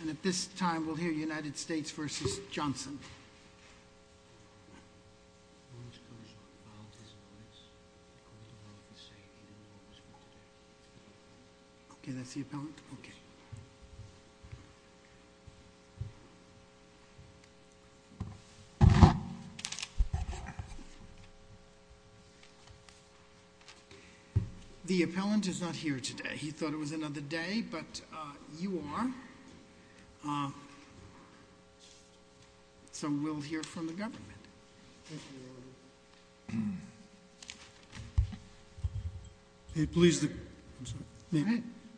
And at this time, we'll hear United States v. Johnson. Okay, that's the appellant? Okay. The appellant is not here today. He thought it was another day, but you are. So we'll hear from the government.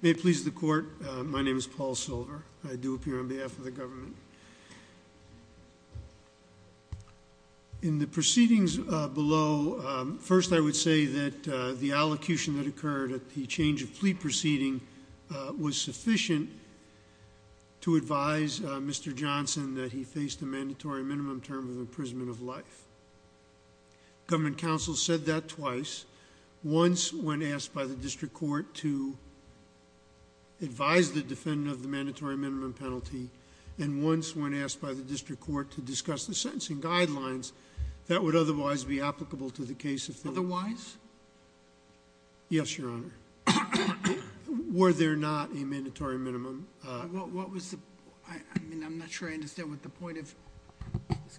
May it please the court, my name is Paul Silver. I do appear on behalf of the government. In the proceedings below, first I would say that the allocution that occurred at the change of plea proceeding was sufficient to advise Mr. Johnson that he faced a mandatory minimum term of imprisonment of life. Government counsel said that twice. Once when asked by the district court to advise the defendant of the mandatory minimum penalty, and once when asked by the district court to discuss the sentencing guidelines that would otherwise be applicable to the case of Thiller. Otherwise? Yes, Your Honor. Were there not a mandatory minimum? What was the... I mean, I'm not sure I understand what the point of...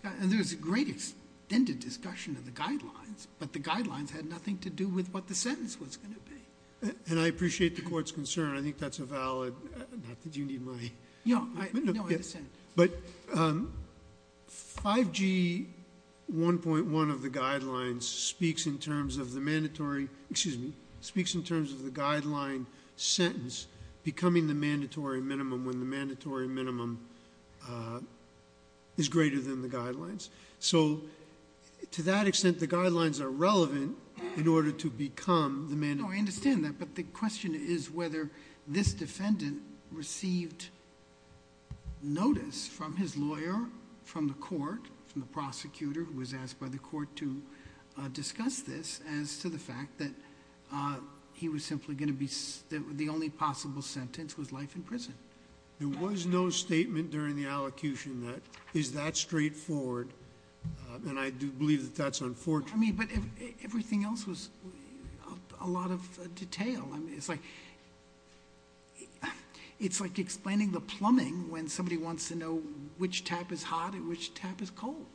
And there was a great extended discussion of the guidelines, but the guidelines had nothing to do with what the sentence was going to be. And I appreciate the court's concern. I think that's a valid... Not that you need my... No, I understand. But 5G 1.1 of the guidelines speaks in terms of the mandatory... Excuse me. Speaks in terms of the guideline sentence becoming the mandatory minimum when the mandatory minimum is greater than the guidelines. So to that extent, the guidelines are relevant in order to become the mandatory... No, I understand that. But the question is whether this defendant received notice from his lawyer, from the court, from the prosecutor who was asked by the court to discuss this as to the fact that he was simply going to be... The only possible sentence was life in prison. There was no statement during the allocution that is that straightforward. And I do believe that that's unfortunate. But everything else was a lot of detail. It's like explaining the plumbing when somebody wants to know which tap is hot and which tap is cold.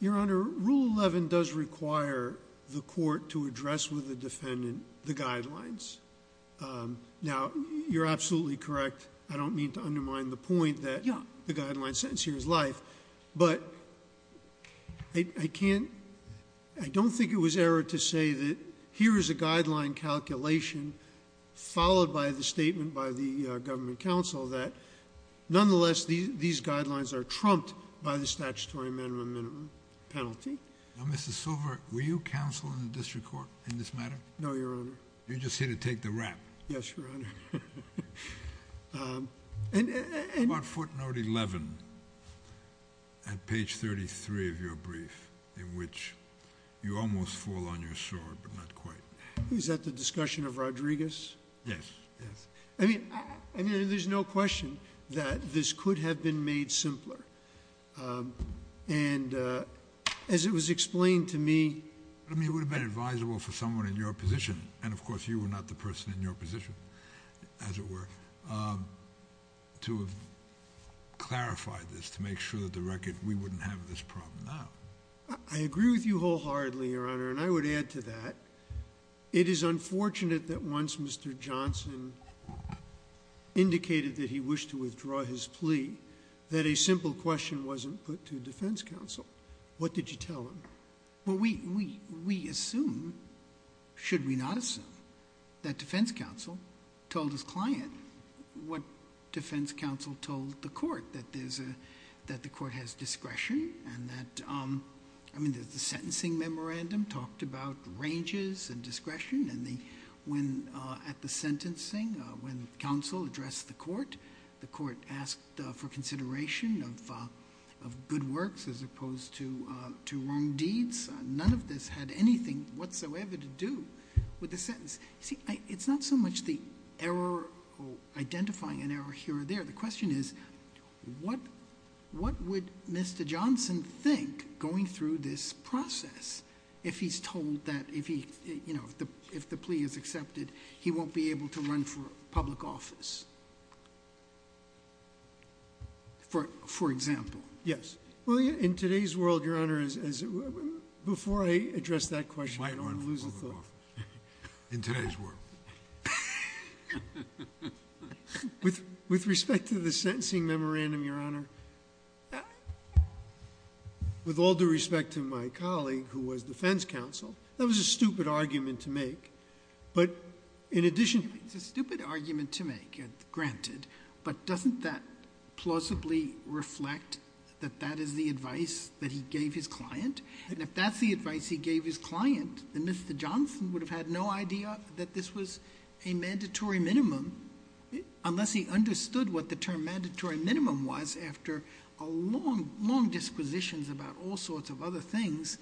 Your Honor, Rule 11 does require the court to address with the defendant the guidelines. Now, you're absolutely correct. I don't mean to undermine the point that the guideline sentence here is life. But I can't... I don't think it was error to say that here is a guideline calculation followed by the statement by the government counsel that, nonetheless, these guidelines are trumped by the statutory minimum penalty. Now, Mr. Silver, were you counsel in the district court in this matter? No, Your Honor. Yes, Your Honor. About footnote 11 at page 33 of your brief, in which you almost fall on your sword, but not quite. Is that the discussion of Rodriguez? Yes. I mean, there's no question that this could have been made simpler. And as it was explained to me... I mean, it would have been advisable for someone in your position, and, of course, you were not the person in your position, as it were, to have clarified this to make sure that the record... we wouldn't have this problem now. I agree with you wholeheartedly, Your Honor, and I would add to that. It is unfortunate that once Mr. Johnson indicated that he wished to withdraw his plea, that a simple question wasn't put to defense counsel. What did you tell him? Well, we assume, should we not assume, that defense counsel told his client what defense counsel told the court, that the court has discretion and that... I mean, the sentencing memorandum talked about ranges and discretion, and when at the sentencing, when counsel addressed the court, the court asked for consideration of good works as opposed to wrong deeds. None of this had anything whatsoever to do with the sentence. You see, it's not so much the error or identifying an error here or there. The question is what would Mr. Johnson think going through this process if he's told that, you know, if the plea is accepted, he won't be able to run for public office, for example. Yes. Well, in today's world, Your Honor, before I address that question, I don't want to lose a thought. In today's world. With respect to the sentencing memorandum, Your Honor, with all due respect to my colleague who was defense counsel, that was a stupid argument to make, but in addition... It's a stupid argument to make, granted, but doesn't that plausibly reflect that that is the advice that he gave his client? And if that's the advice he gave his client, then Mr. Johnson would have had no idea that this was a mandatory minimum unless he understood what the term mandatory minimum was after long disquisitions about all sorts of other things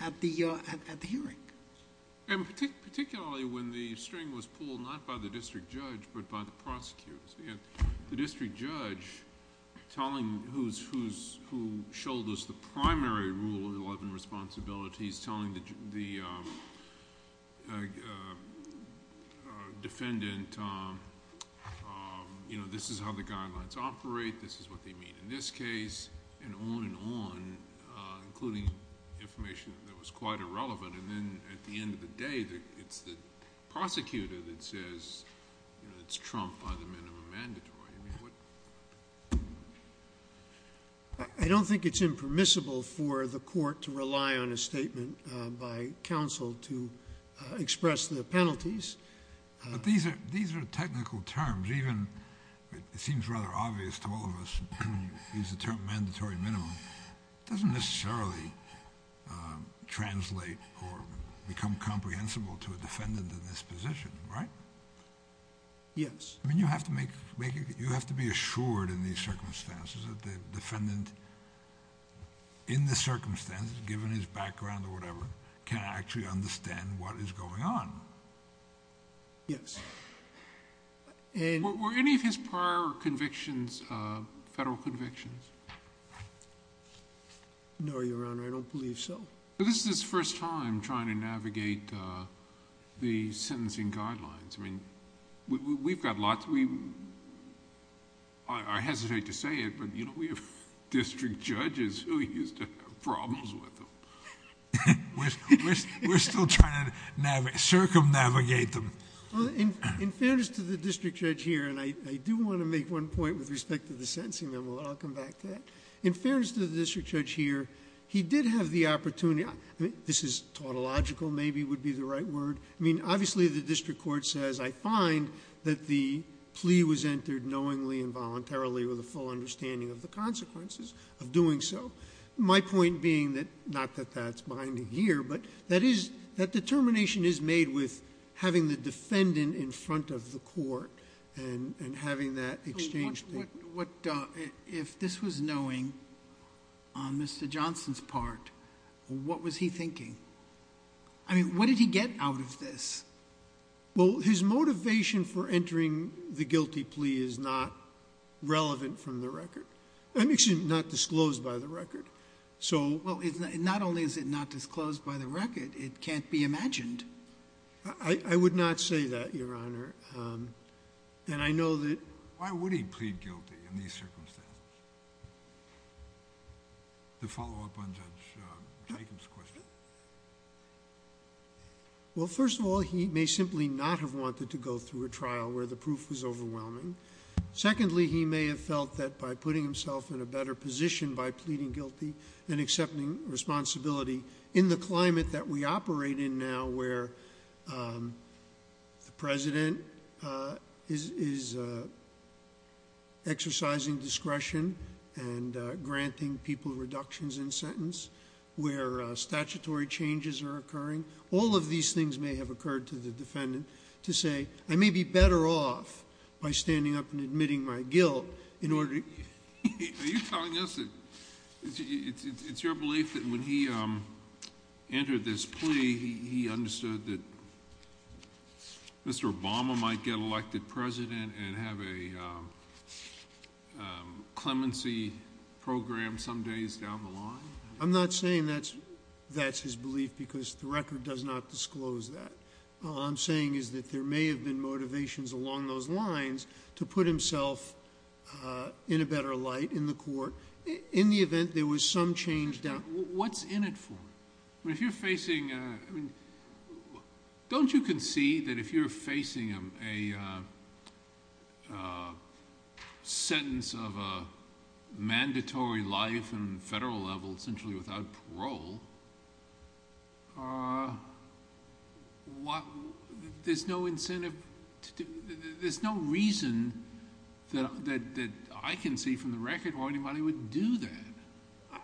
at the hearing. Particularly when the string was pulled not by the district judge but by the prosecutors. The district judge, who shoulders the primary Rule 11 responsibility, is telling the defendant, this is how the guidelines operate, this is what they mean in this case, and on and on, including information that was quite irrelevant, and then at the end of the day, it's the prosecutor that says it's trumped by the minimum mandatory. I don't think it's impermissible for the court to rely on a statement by counsel to express the penalties. But these are technical terms. It seems rather obvious to all of us to use the term mandatory minimum. It doesn't necessarily translate or become comprehensible to a defendant in this position, right? Yes. I mean, you have to be assured in these circumstances that the defendant, in the circumstances, given his background or whatever, can actually understand what is going on. Yes. Were any of his prior convictions federal convictions? No, Your Honor, I don't believe so. This is his first time trying to navigate the sentencing guidelines. I mean, we've got lots... I hesitate to say it, but we have district judges who used to have problems with them. We're still trying to circumnavigate them. Well, in fairness to the district judge here, and I do want to make one point with respect to the sentencing memo, and I'll come back to that. In fairness to the district judge here, he did have the opportunity... I mean, this is tautological maybe would be the right word. I mean, obviously the district court says, I find that the plea was entered knowingly and voluntarily with a full understanding of the consequences of doing so. My point being that, not that that's binding here, but that determination is made with having the defendant in front of the court and having that exchange... If this was knowing on Mr. Johnson's part, what was he thinking? I mean, what did he get out of this? Well, his motivation for entering the guilty plea is not relevant from the record. I mean, it's not disclosed by the record, so... Well, not only is it not disclosed by the record, it can't be imagined. I would not say that, Your Honor. And I know that... Why would he plead guilty in these circumstances? The follow-up on Judge Jacob's question. Well, first of all, he may simply not have wanted to go through a trial where the proof was overwhelming. Secondly, he may have felt that by putting himself in a better position by pleading guilty and accepting responsibility in the climate that we operate in now where the president is exercising discretion and granting people reductions in sentence, where statutory changes are occurring. All of these things may have occurred to the defendant to say, I may be better off by standing up and admitting my guilt in order... Are you telling us that it's your belief that when he entered this plea, he understood that Mr. Obama might get elected president and have a clemency program some days down the line? I'm not saying that's his belief because the record does not disclose that. All I'm saying is that there may have been motivations along those lines to put himself in a better light in the court in the event there was some change down... What's in it for him? If you're facing... Don't you concede that if you're facing a sentence of a mandatory life on the federal level essentially without parole, there's no incentive... There's no reason that I can see from the record why anybody would do that.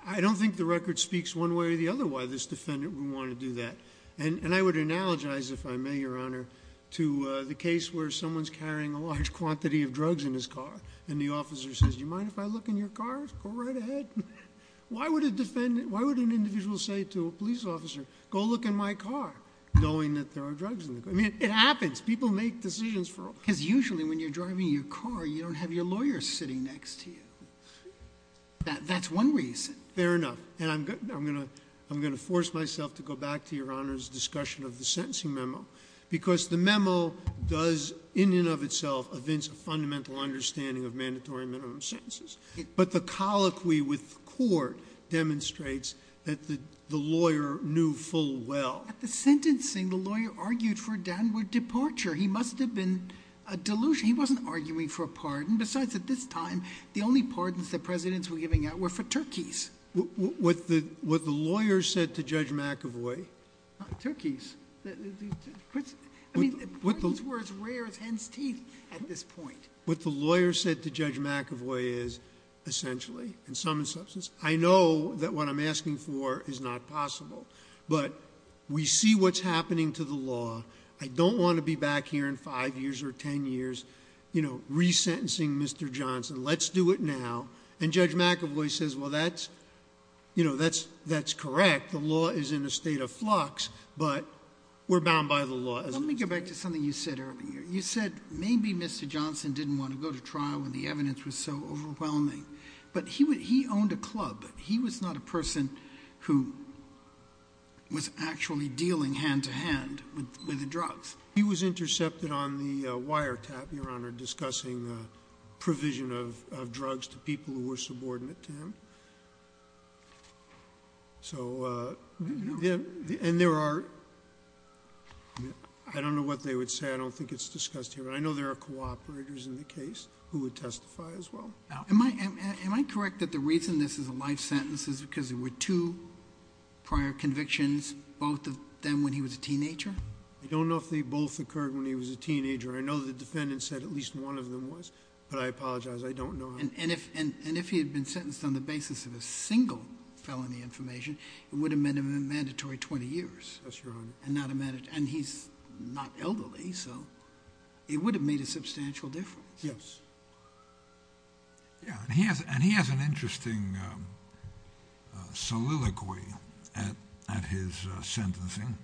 I don't think the record speaks one way or the other why this defendant would want to do that. And I would analogize, if I may, Your Honor, to the case where someone's carrying a large quantity of drugs in his car and the officer says, do you mind if I look in your car? Go right ahead. Why would an individual say to a police officer, go look in my car, knowing that there are drugs in the car? I mean, it happens. People make decisions for... Because usually when you're driving your car, you don't have your lawyer sitting next to you. That's one reason. Fair enough. And I'm going to force myself to go back to Your Honor's discussion of the sentencing memo because the memo does in and of itself evince a fundamental understanding of mandatory and minimum sentences. But the colloquy with the court demonstrates that the lawyer knew full well... At the sentencing, the lawyer argued for a downward departure. He must have been delusional. He wasn't arguing for a pardon. Besides, at this time, the only pardons that presidents were giving out were for turkeys. What the lawyer said to Judge McAvoy... Not turkeys. I mean, turkeys were as rare as hen's teeth at this point. What the lawyer said to Judge McAvoy is, essentially, in some instances, I know that what I'm asking for is not possible, but we see what's happening to the law. I don't want to be back here in five years or ten years resentencing Mr. Johnson. Let's do it now. And Judge McAvoy says, well, that's correct. The law is in a state of flux, but we're bound by the law. Let me go back to something you said earlier. You said maybe Mr. Johnson didn't want to go to trial when the evidence was so overwhelming. But he owned a club. He was not a person who was actually dealing hand-to-hand with the drugs. He was intercepted on the wiretap, Your Honor, discussing the provision of drugs to people who were subordinate to him. So... And there are... I don't know what they would say. I don't think it's discussed here. But I know there are cooperators in the case who would testify as well. Am I correct that the reason this is a life sentence is because there were two prior convictions, both of them when he was a teenager? I don't know if they both occurred when he was a teenager. I know the defendant said at least one of them was, but I apologize. I don't know. And if he had been sentenced on the basis of a single felony information, it would have meant a mandatory 20 years. Yes, Your Honor. And he's not elderly, so it would have made a substantial difference. Yes. Yeah, and he has an interesting soliloquy at his sentencing,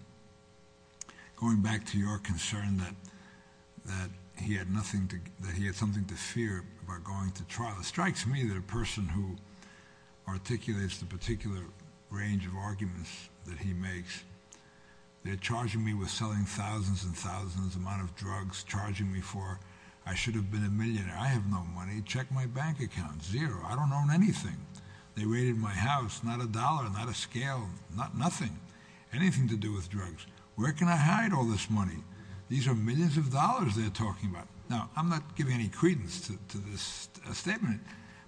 going back to your concern that he had something to fear about going to trial. It strikes me that a person who articulates the particular range of arguments that he makes, charging me for, I should have been a millionaire. I have no money. Check my bank account. Zero. I don't own anything. They raided my house. Not a dollar. Not a scale. Nothing. Anything to do with drugs. Where can I hide all this money? These are millions of dollars they're talking about. Now, I'm not giving any credence to this statement,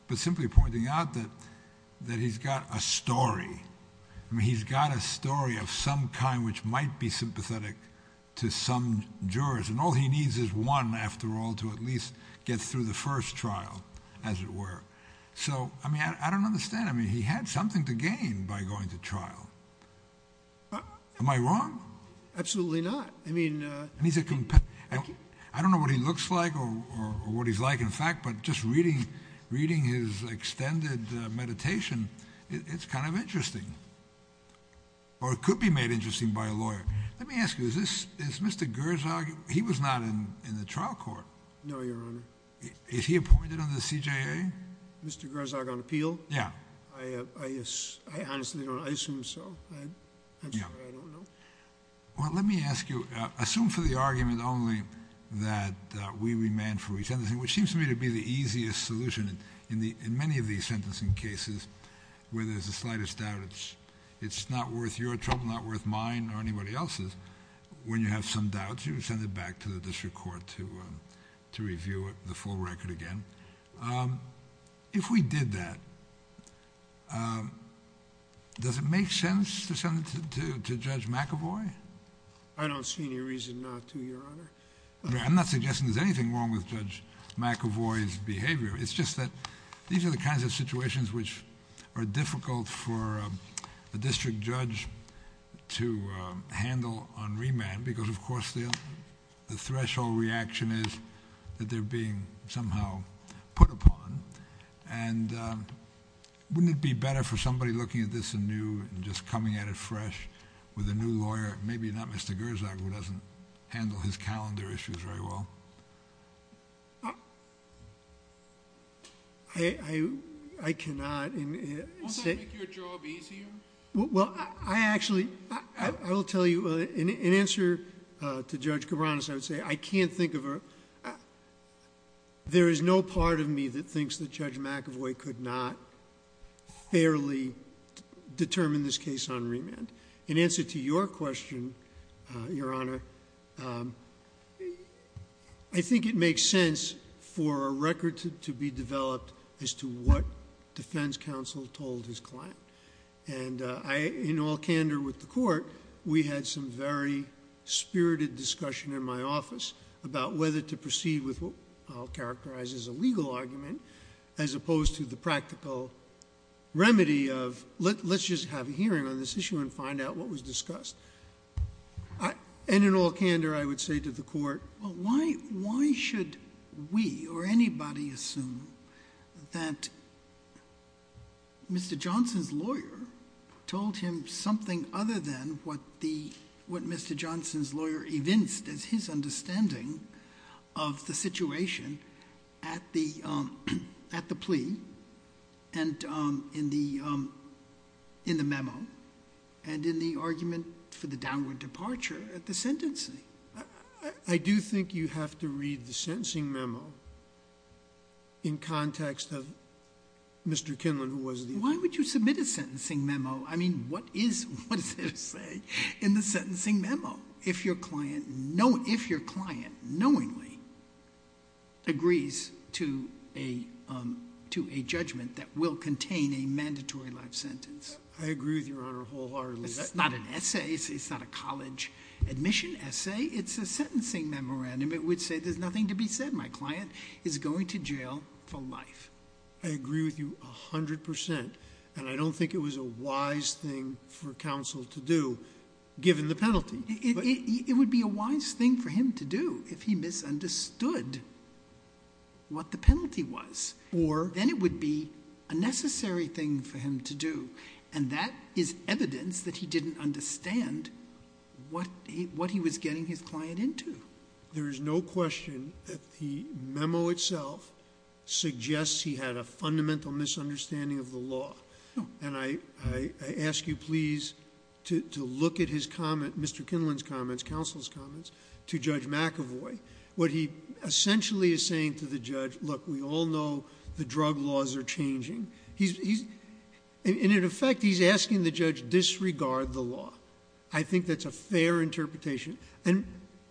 but simply pointing out that he's got a story. I mean, he's got a story of some kind which might be sympathetic to some jurors, and all he needs is one, after all, to at least get through the first trial, as it were. So, I mean, I don't understand. I mean, he had something to gain by going to trial. Am I wrong? Absolutely not. I mean, I don't know what he looks like or what he's like in fact, but just reading his extended meditation, it's kind of interesting. Or it could be made interesting by a lawyer. Let me ask you, is Mr. Gerzog, he was not in the trial court. No, Your Honor. Is he appointed under the CJA? Mr. Gerzog on appeal? Yeah. I honestly don't know. I assume so. I'm sorry, I don't know. Well, let me ask you, assume for the argument only that we remand for each other, which seems to me to be the easiest solution in many of these sentencing cases where there's the slightest doubt it's not worth your trouble, not worth mine or anybody else's. When you have some doubts, you send it back to the district court to review the full record again. If we did that, does it make sense to send it to Judge McAvoy? I don't see any reason not to, Your Honor. I'm not suggesting there's anything wrong with Judge McAvoy's behavior. It's just that these are the kinds of situations which are difficult for a district judge to handle on remand because, of course, the threshold reaction is that they're being somehow put upon. And wouldn't it be better for somebody looking at this anew and just coming at it fresh with a new lawyer, maybe not Mr. Gerzog, who doesn't handle his calendar issues very well? I cannot. Won't that make your job easier? Well, I actually... I will tell you, in answer to Judge Cabranes, I would say I can't think of a... There is no part of me that thinks that Judge McAvoy could not fairly determine this case on remand. In answer to your question, Your Honor, I think it makes sense for a record to be developed as to what defense counsel told his client. And in all candor with the court, we had some very spirited discussion in my office about whether to proceed with what I'll characterize as a legal argument as opposed to the practical remedy of, let's just have a hearing on this issue and find out what was discussed. And in all candor, I would say to the court, why should we or anybody assume that Mr. Johnson's lawyer told him something other than what Mr. Johnson's lawyer evinced as his understanding of the situation at the plea and in the memo and in the argument for the downward departure at the sentencing? I do think you have to read the sentencing memo in context of Mr. Kinlan, who was the... Why would you submit a sentencing memo? I mean, what is there to say in the sentencing memo? If your client knowingly agrees to a judgment that will contain a mandatory life sentence. I agree with Your Honor wholeheartedly. It's not an essay. It's not a college admission essay. It's a sentencing memorandum. It would say there's nothing to be said. My client is going to jail for life. I agree with you 100 percent. And I don't think it was a wise thing for counsel to do, given the penalty. It would be a wise thing for him to do if he misunderstood what the penalty was. Or... Then it would be a necessary thing for him to do. And that is evidence that he didn't understand what he was getting his client into. There is no question that the memo itself suggests he had a fundamental misunderstanding of the law. And I ask you please to look at his comment, Mr. Kinlan's comments, counsel's comments, to Judge McAvoy. What he essentially is saying to the judge, look, we all know the drug laws are changing. In effect, he's asking the judge, disregard the law. I think that's a fair interpretation. And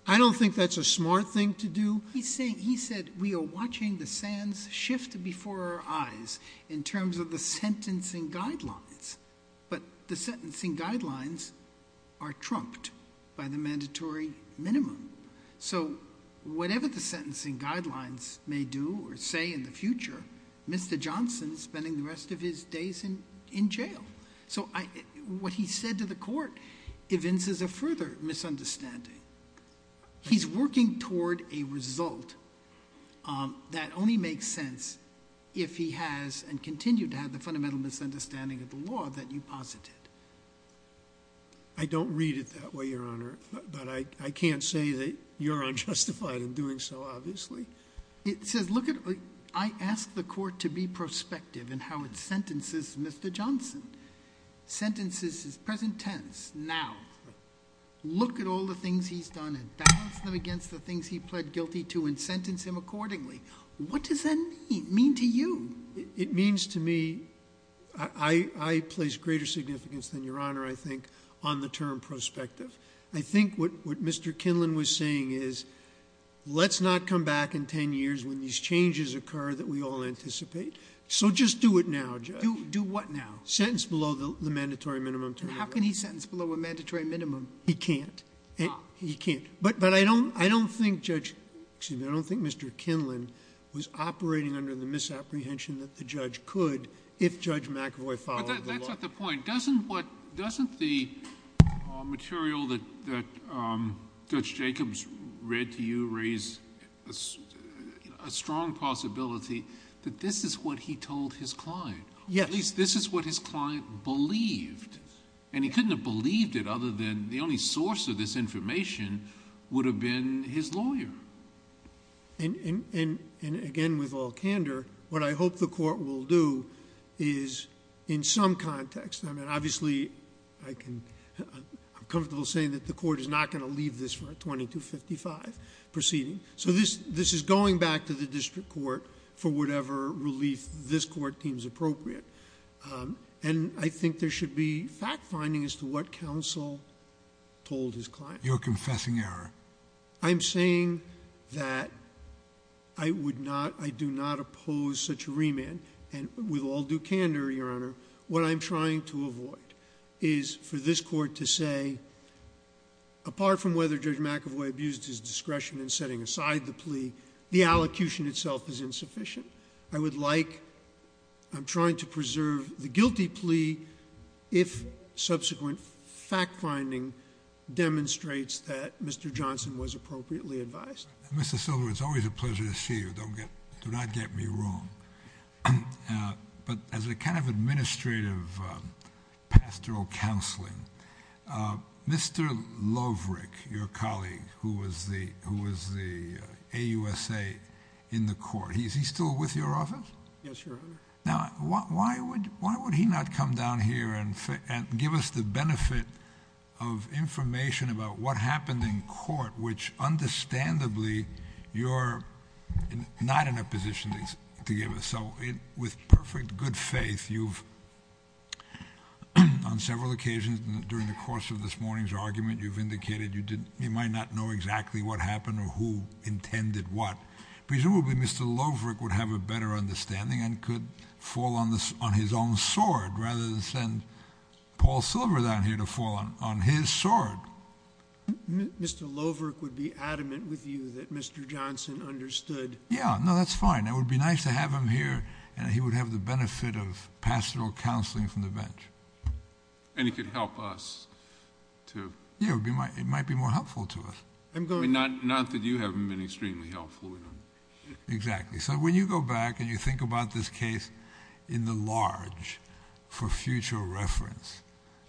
I don't think that's a smart thing to do. He said we are watching the sands shift before our eyes in terms of the sentencing guidelines. But the sentencing guidelines are trumped by the mandatory minimum. So whatever the sentencing guidelines may do or say in the future, Mr. Johnson is spending the rest of his days in jail. So what he said to the court evinces a further misunderstanding. He's working toward a result that only makes sense if he has and continued to have the fundamental misunderstanding of the law that you posited. I don't read it that way, Your Honor. But I can't say that you're unjustified in doing so, obviously. It says, look, I ask the court to be prospective in how it sentences Mr. Johnson. Sentences his present tense, now. Look at all the things he's done and balance them against the things he pled guilty to and sentence him accordingly. What does that mean to you? It means to me, I place greater significance than Your Honor, I think, on the term prospective. I think what Mr. Kinlan was saying is, let's not come back in ten years when these changes occur that we all anticipate. So just do it now, Judge. Do what now? Sentence below the mandatory minimum. And how can he sentence below a mandatory minimum? He can't. He can't. But I don't think Mr. Kinlan was operating under the misapprehension that the judge could if Judge McAvoy followed the law. But that's not the point. Doesn't the material that Judge Jacobs read to you raise a strong possibility that this is what he told his client? Yes. At least this is what his client believed. And he couldn't have believed it other than the only source of this information would have been his lawyer. And again, with all candor, what I hope the court will do is, in some context, I mean, obviously, I can... I'm comfortable saying that the court is not going to leave this for a 2255 proceeding. So this is going back to the district court for whatever relief this court deems appropriate. And I think there should be fact-finding as to what counsel told his client. You're confessing error. I'm saying that I would not... I do not oppose such a remand. And with all due candor, Your Honor, what I'm trying to avoid is for this court to say, apart from whether Judge McAvoy abused his discretion in setting aside the plea, the allocution itself is insufficient. I would like... I'm trying to preserve the guilty plea if subsequent fact-finding demonstrates that Mr. Johnson was appropriately advised. Mr. Silver, it's always a pleasure to see you. Do not get me wrong. But as a kind of administrative pastoral counseling, Mr. Lovric, your colleague, who was the AUSA in the court, is he still with your office? Yes, Your Honor. Now, why would he not come down here and give us the benefit of information about what happened in court, which understandably you're not in a position to give us? So with perfect good faith, you've, on several occasions during the course of this morning's argument, you've indicated you might not know exactly what happened or who intended what. Presumably Mr. Lovric would have a better understanding and could fall on his own sword rather than send Paul Silver down here to fall on his sword. Mr. Lovric would be adamant with you that Mr. Johnson understood... Yeah, no, that's fine. It would be nice to have him here and he would have the benefit of pastoral counseling from the bench. And he could help us to... Yeah, it might be more helpful to us. Not that you haven't been extremely helpful. Exactly. So when you go back and you think about this case in the large for future reference,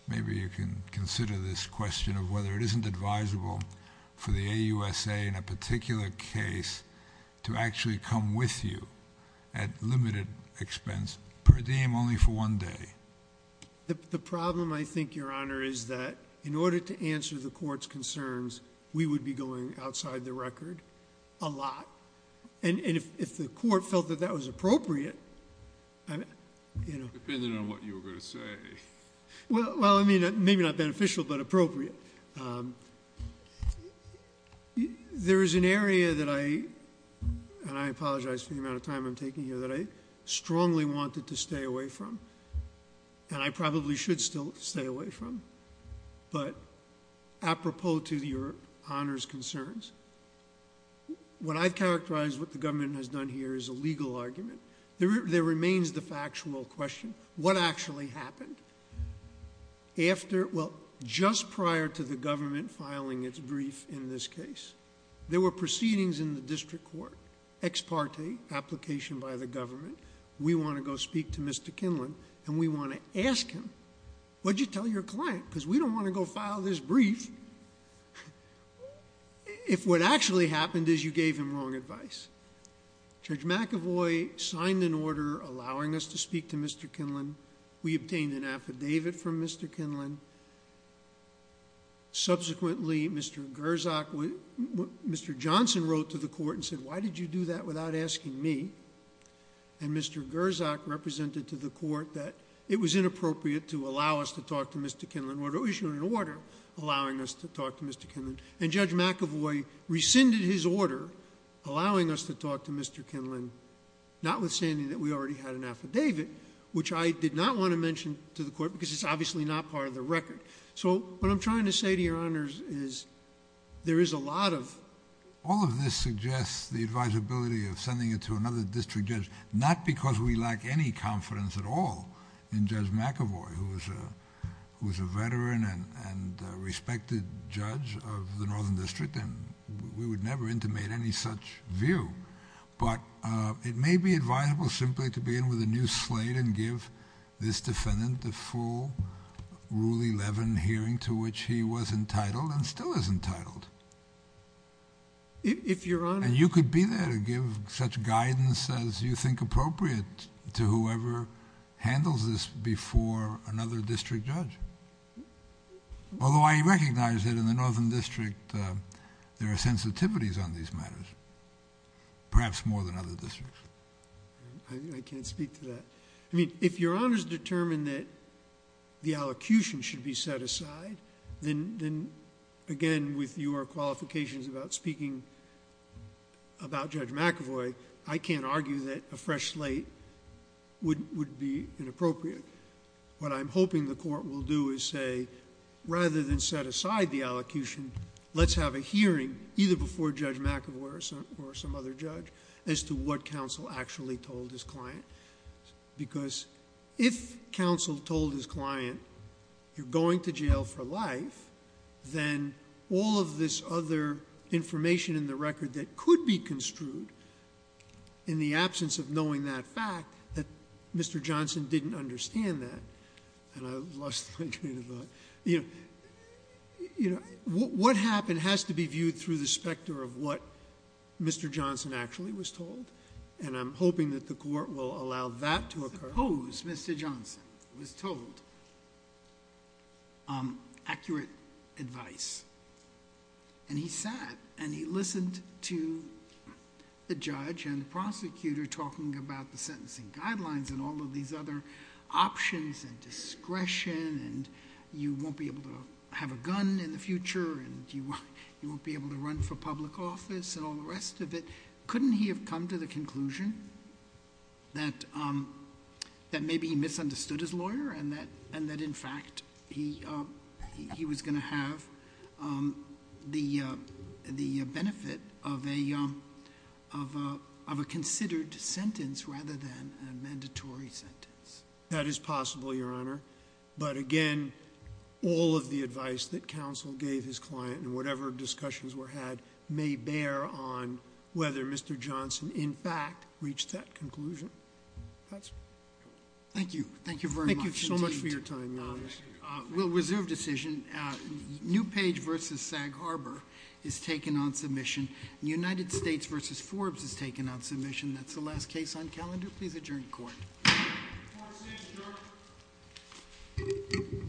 maybe you can consider this question of whether it isn't advisable for the AUSA in a particular case to actually come with you at limited expense per diem only for one day. The problem, I think, Your Honor, is that in order to answer the court's concerns, we would be going outside the record a lot. And if the court felt that that was appropriate... Depending on what you were going to say. Well, I mean, maybe not beneficial, but appropriate. There is an area that I... and I apologize for the amount of time I'm taking here... that I strongly wanted to stay away from. And I probably should still stay away from. But, apropos to Your Honor's concerns, what I've characterized what the government has done here is a legal argument. There remains the factual question. What actually happened? After... well, just prior to the government filing its brief in this case, there were proceedings in the district court. Ex parte, application by the government. We want to go speak to Mr. Kinlan, and we want to ask him, What did you tell your client? Because we don't want to go file this brief. If what actually happened is you gave him wrong advice. Judge McAvoy signed an order allowing us to speak to Mr. Kinlan. We obtained an affidavit from Mr. Kinlan. Subsequently, Mr. Gerzak... Mr. Johnson wrote to the court and said, Why did you do that without asking me? And Mr. Gerzak represented to the court that it was inappropriate to allow us to talk to Mr. Kinlan. We issued an order allowing us to talk to Mr. Kinlan. And Judge McAvoy rescinded his order allowing us to talk to Mr. Kinlan, notwithstanding that we already had an affidavit, which I did not want to mention to the court because it's obviously not part of the record. So what I'm trying to say to Your Honors is there is a lot of... All of this suggests the advisability of sending it to another district judge, not because we lack any confidence at all in Judge McAvoy, who is a veteran and respected judge of the Northern District, and we would never intimate any such view, but it may be advisable simply to begin with a new slate and give this defendant the full Rule 11 hearing to which he was entitled and still is entitled. If Your Honor... And you could be there to give such guidance as you think appropriate to whoever handles this before another district judge. Although I recognize that in the Northern District there are sensitivities on these matters, perhaps more than other districts. I can't speak to that. I mean, if Your Honors determine that the allocution should be set aside, then again with your qualifications about speaking about Judge McAvoy, I can't argue that a fresh slate would be inappropriate. What I'm hoping the Court will do is say, rather than set aside the allocution, let's have a hearing either before Judge McAvoy or some other judge as to what counsel actually told his client. Because if counsel told his client, you're going to jail for life, then all of this other information in the record that could be construed in the absence of knowing that fact, that Mr. Johnson didn't understand that. And I lost my train of thought. What happened has to be viewed through the specter of what Mr. Johnson actually was told, and I'm hoping that the Court will allow that to occur. Suppose Mr. Johnson was told accurate advice, and he sat and he listened to the judge and the prosecutor talking about the sentencing guidelines and all of these other options and discretion and you won't be able to have a gun in the future and you won't be able to run for public office and all the rest of it. Couldn't he have come to the conclusion that maybe he misunderstood his lawyer and that in fact he was going to have the benefit of a considered sentence rather than a mandatory sentence? That is possible, Your Honor. But again, all of the advice that counsel gave his client and whatever discussions were had may bear on whether Mr. Johnson in fact reached that conclusion. Thank you. Thank you very much. Thank you so much for your time, Your Honor. We'll reserve decision. Newpage v. Sag Harbor is taken on submission. United States v. Forbes is taken on submission. That's the last case on calendar. Please adjourn the Court. Court is adjourned.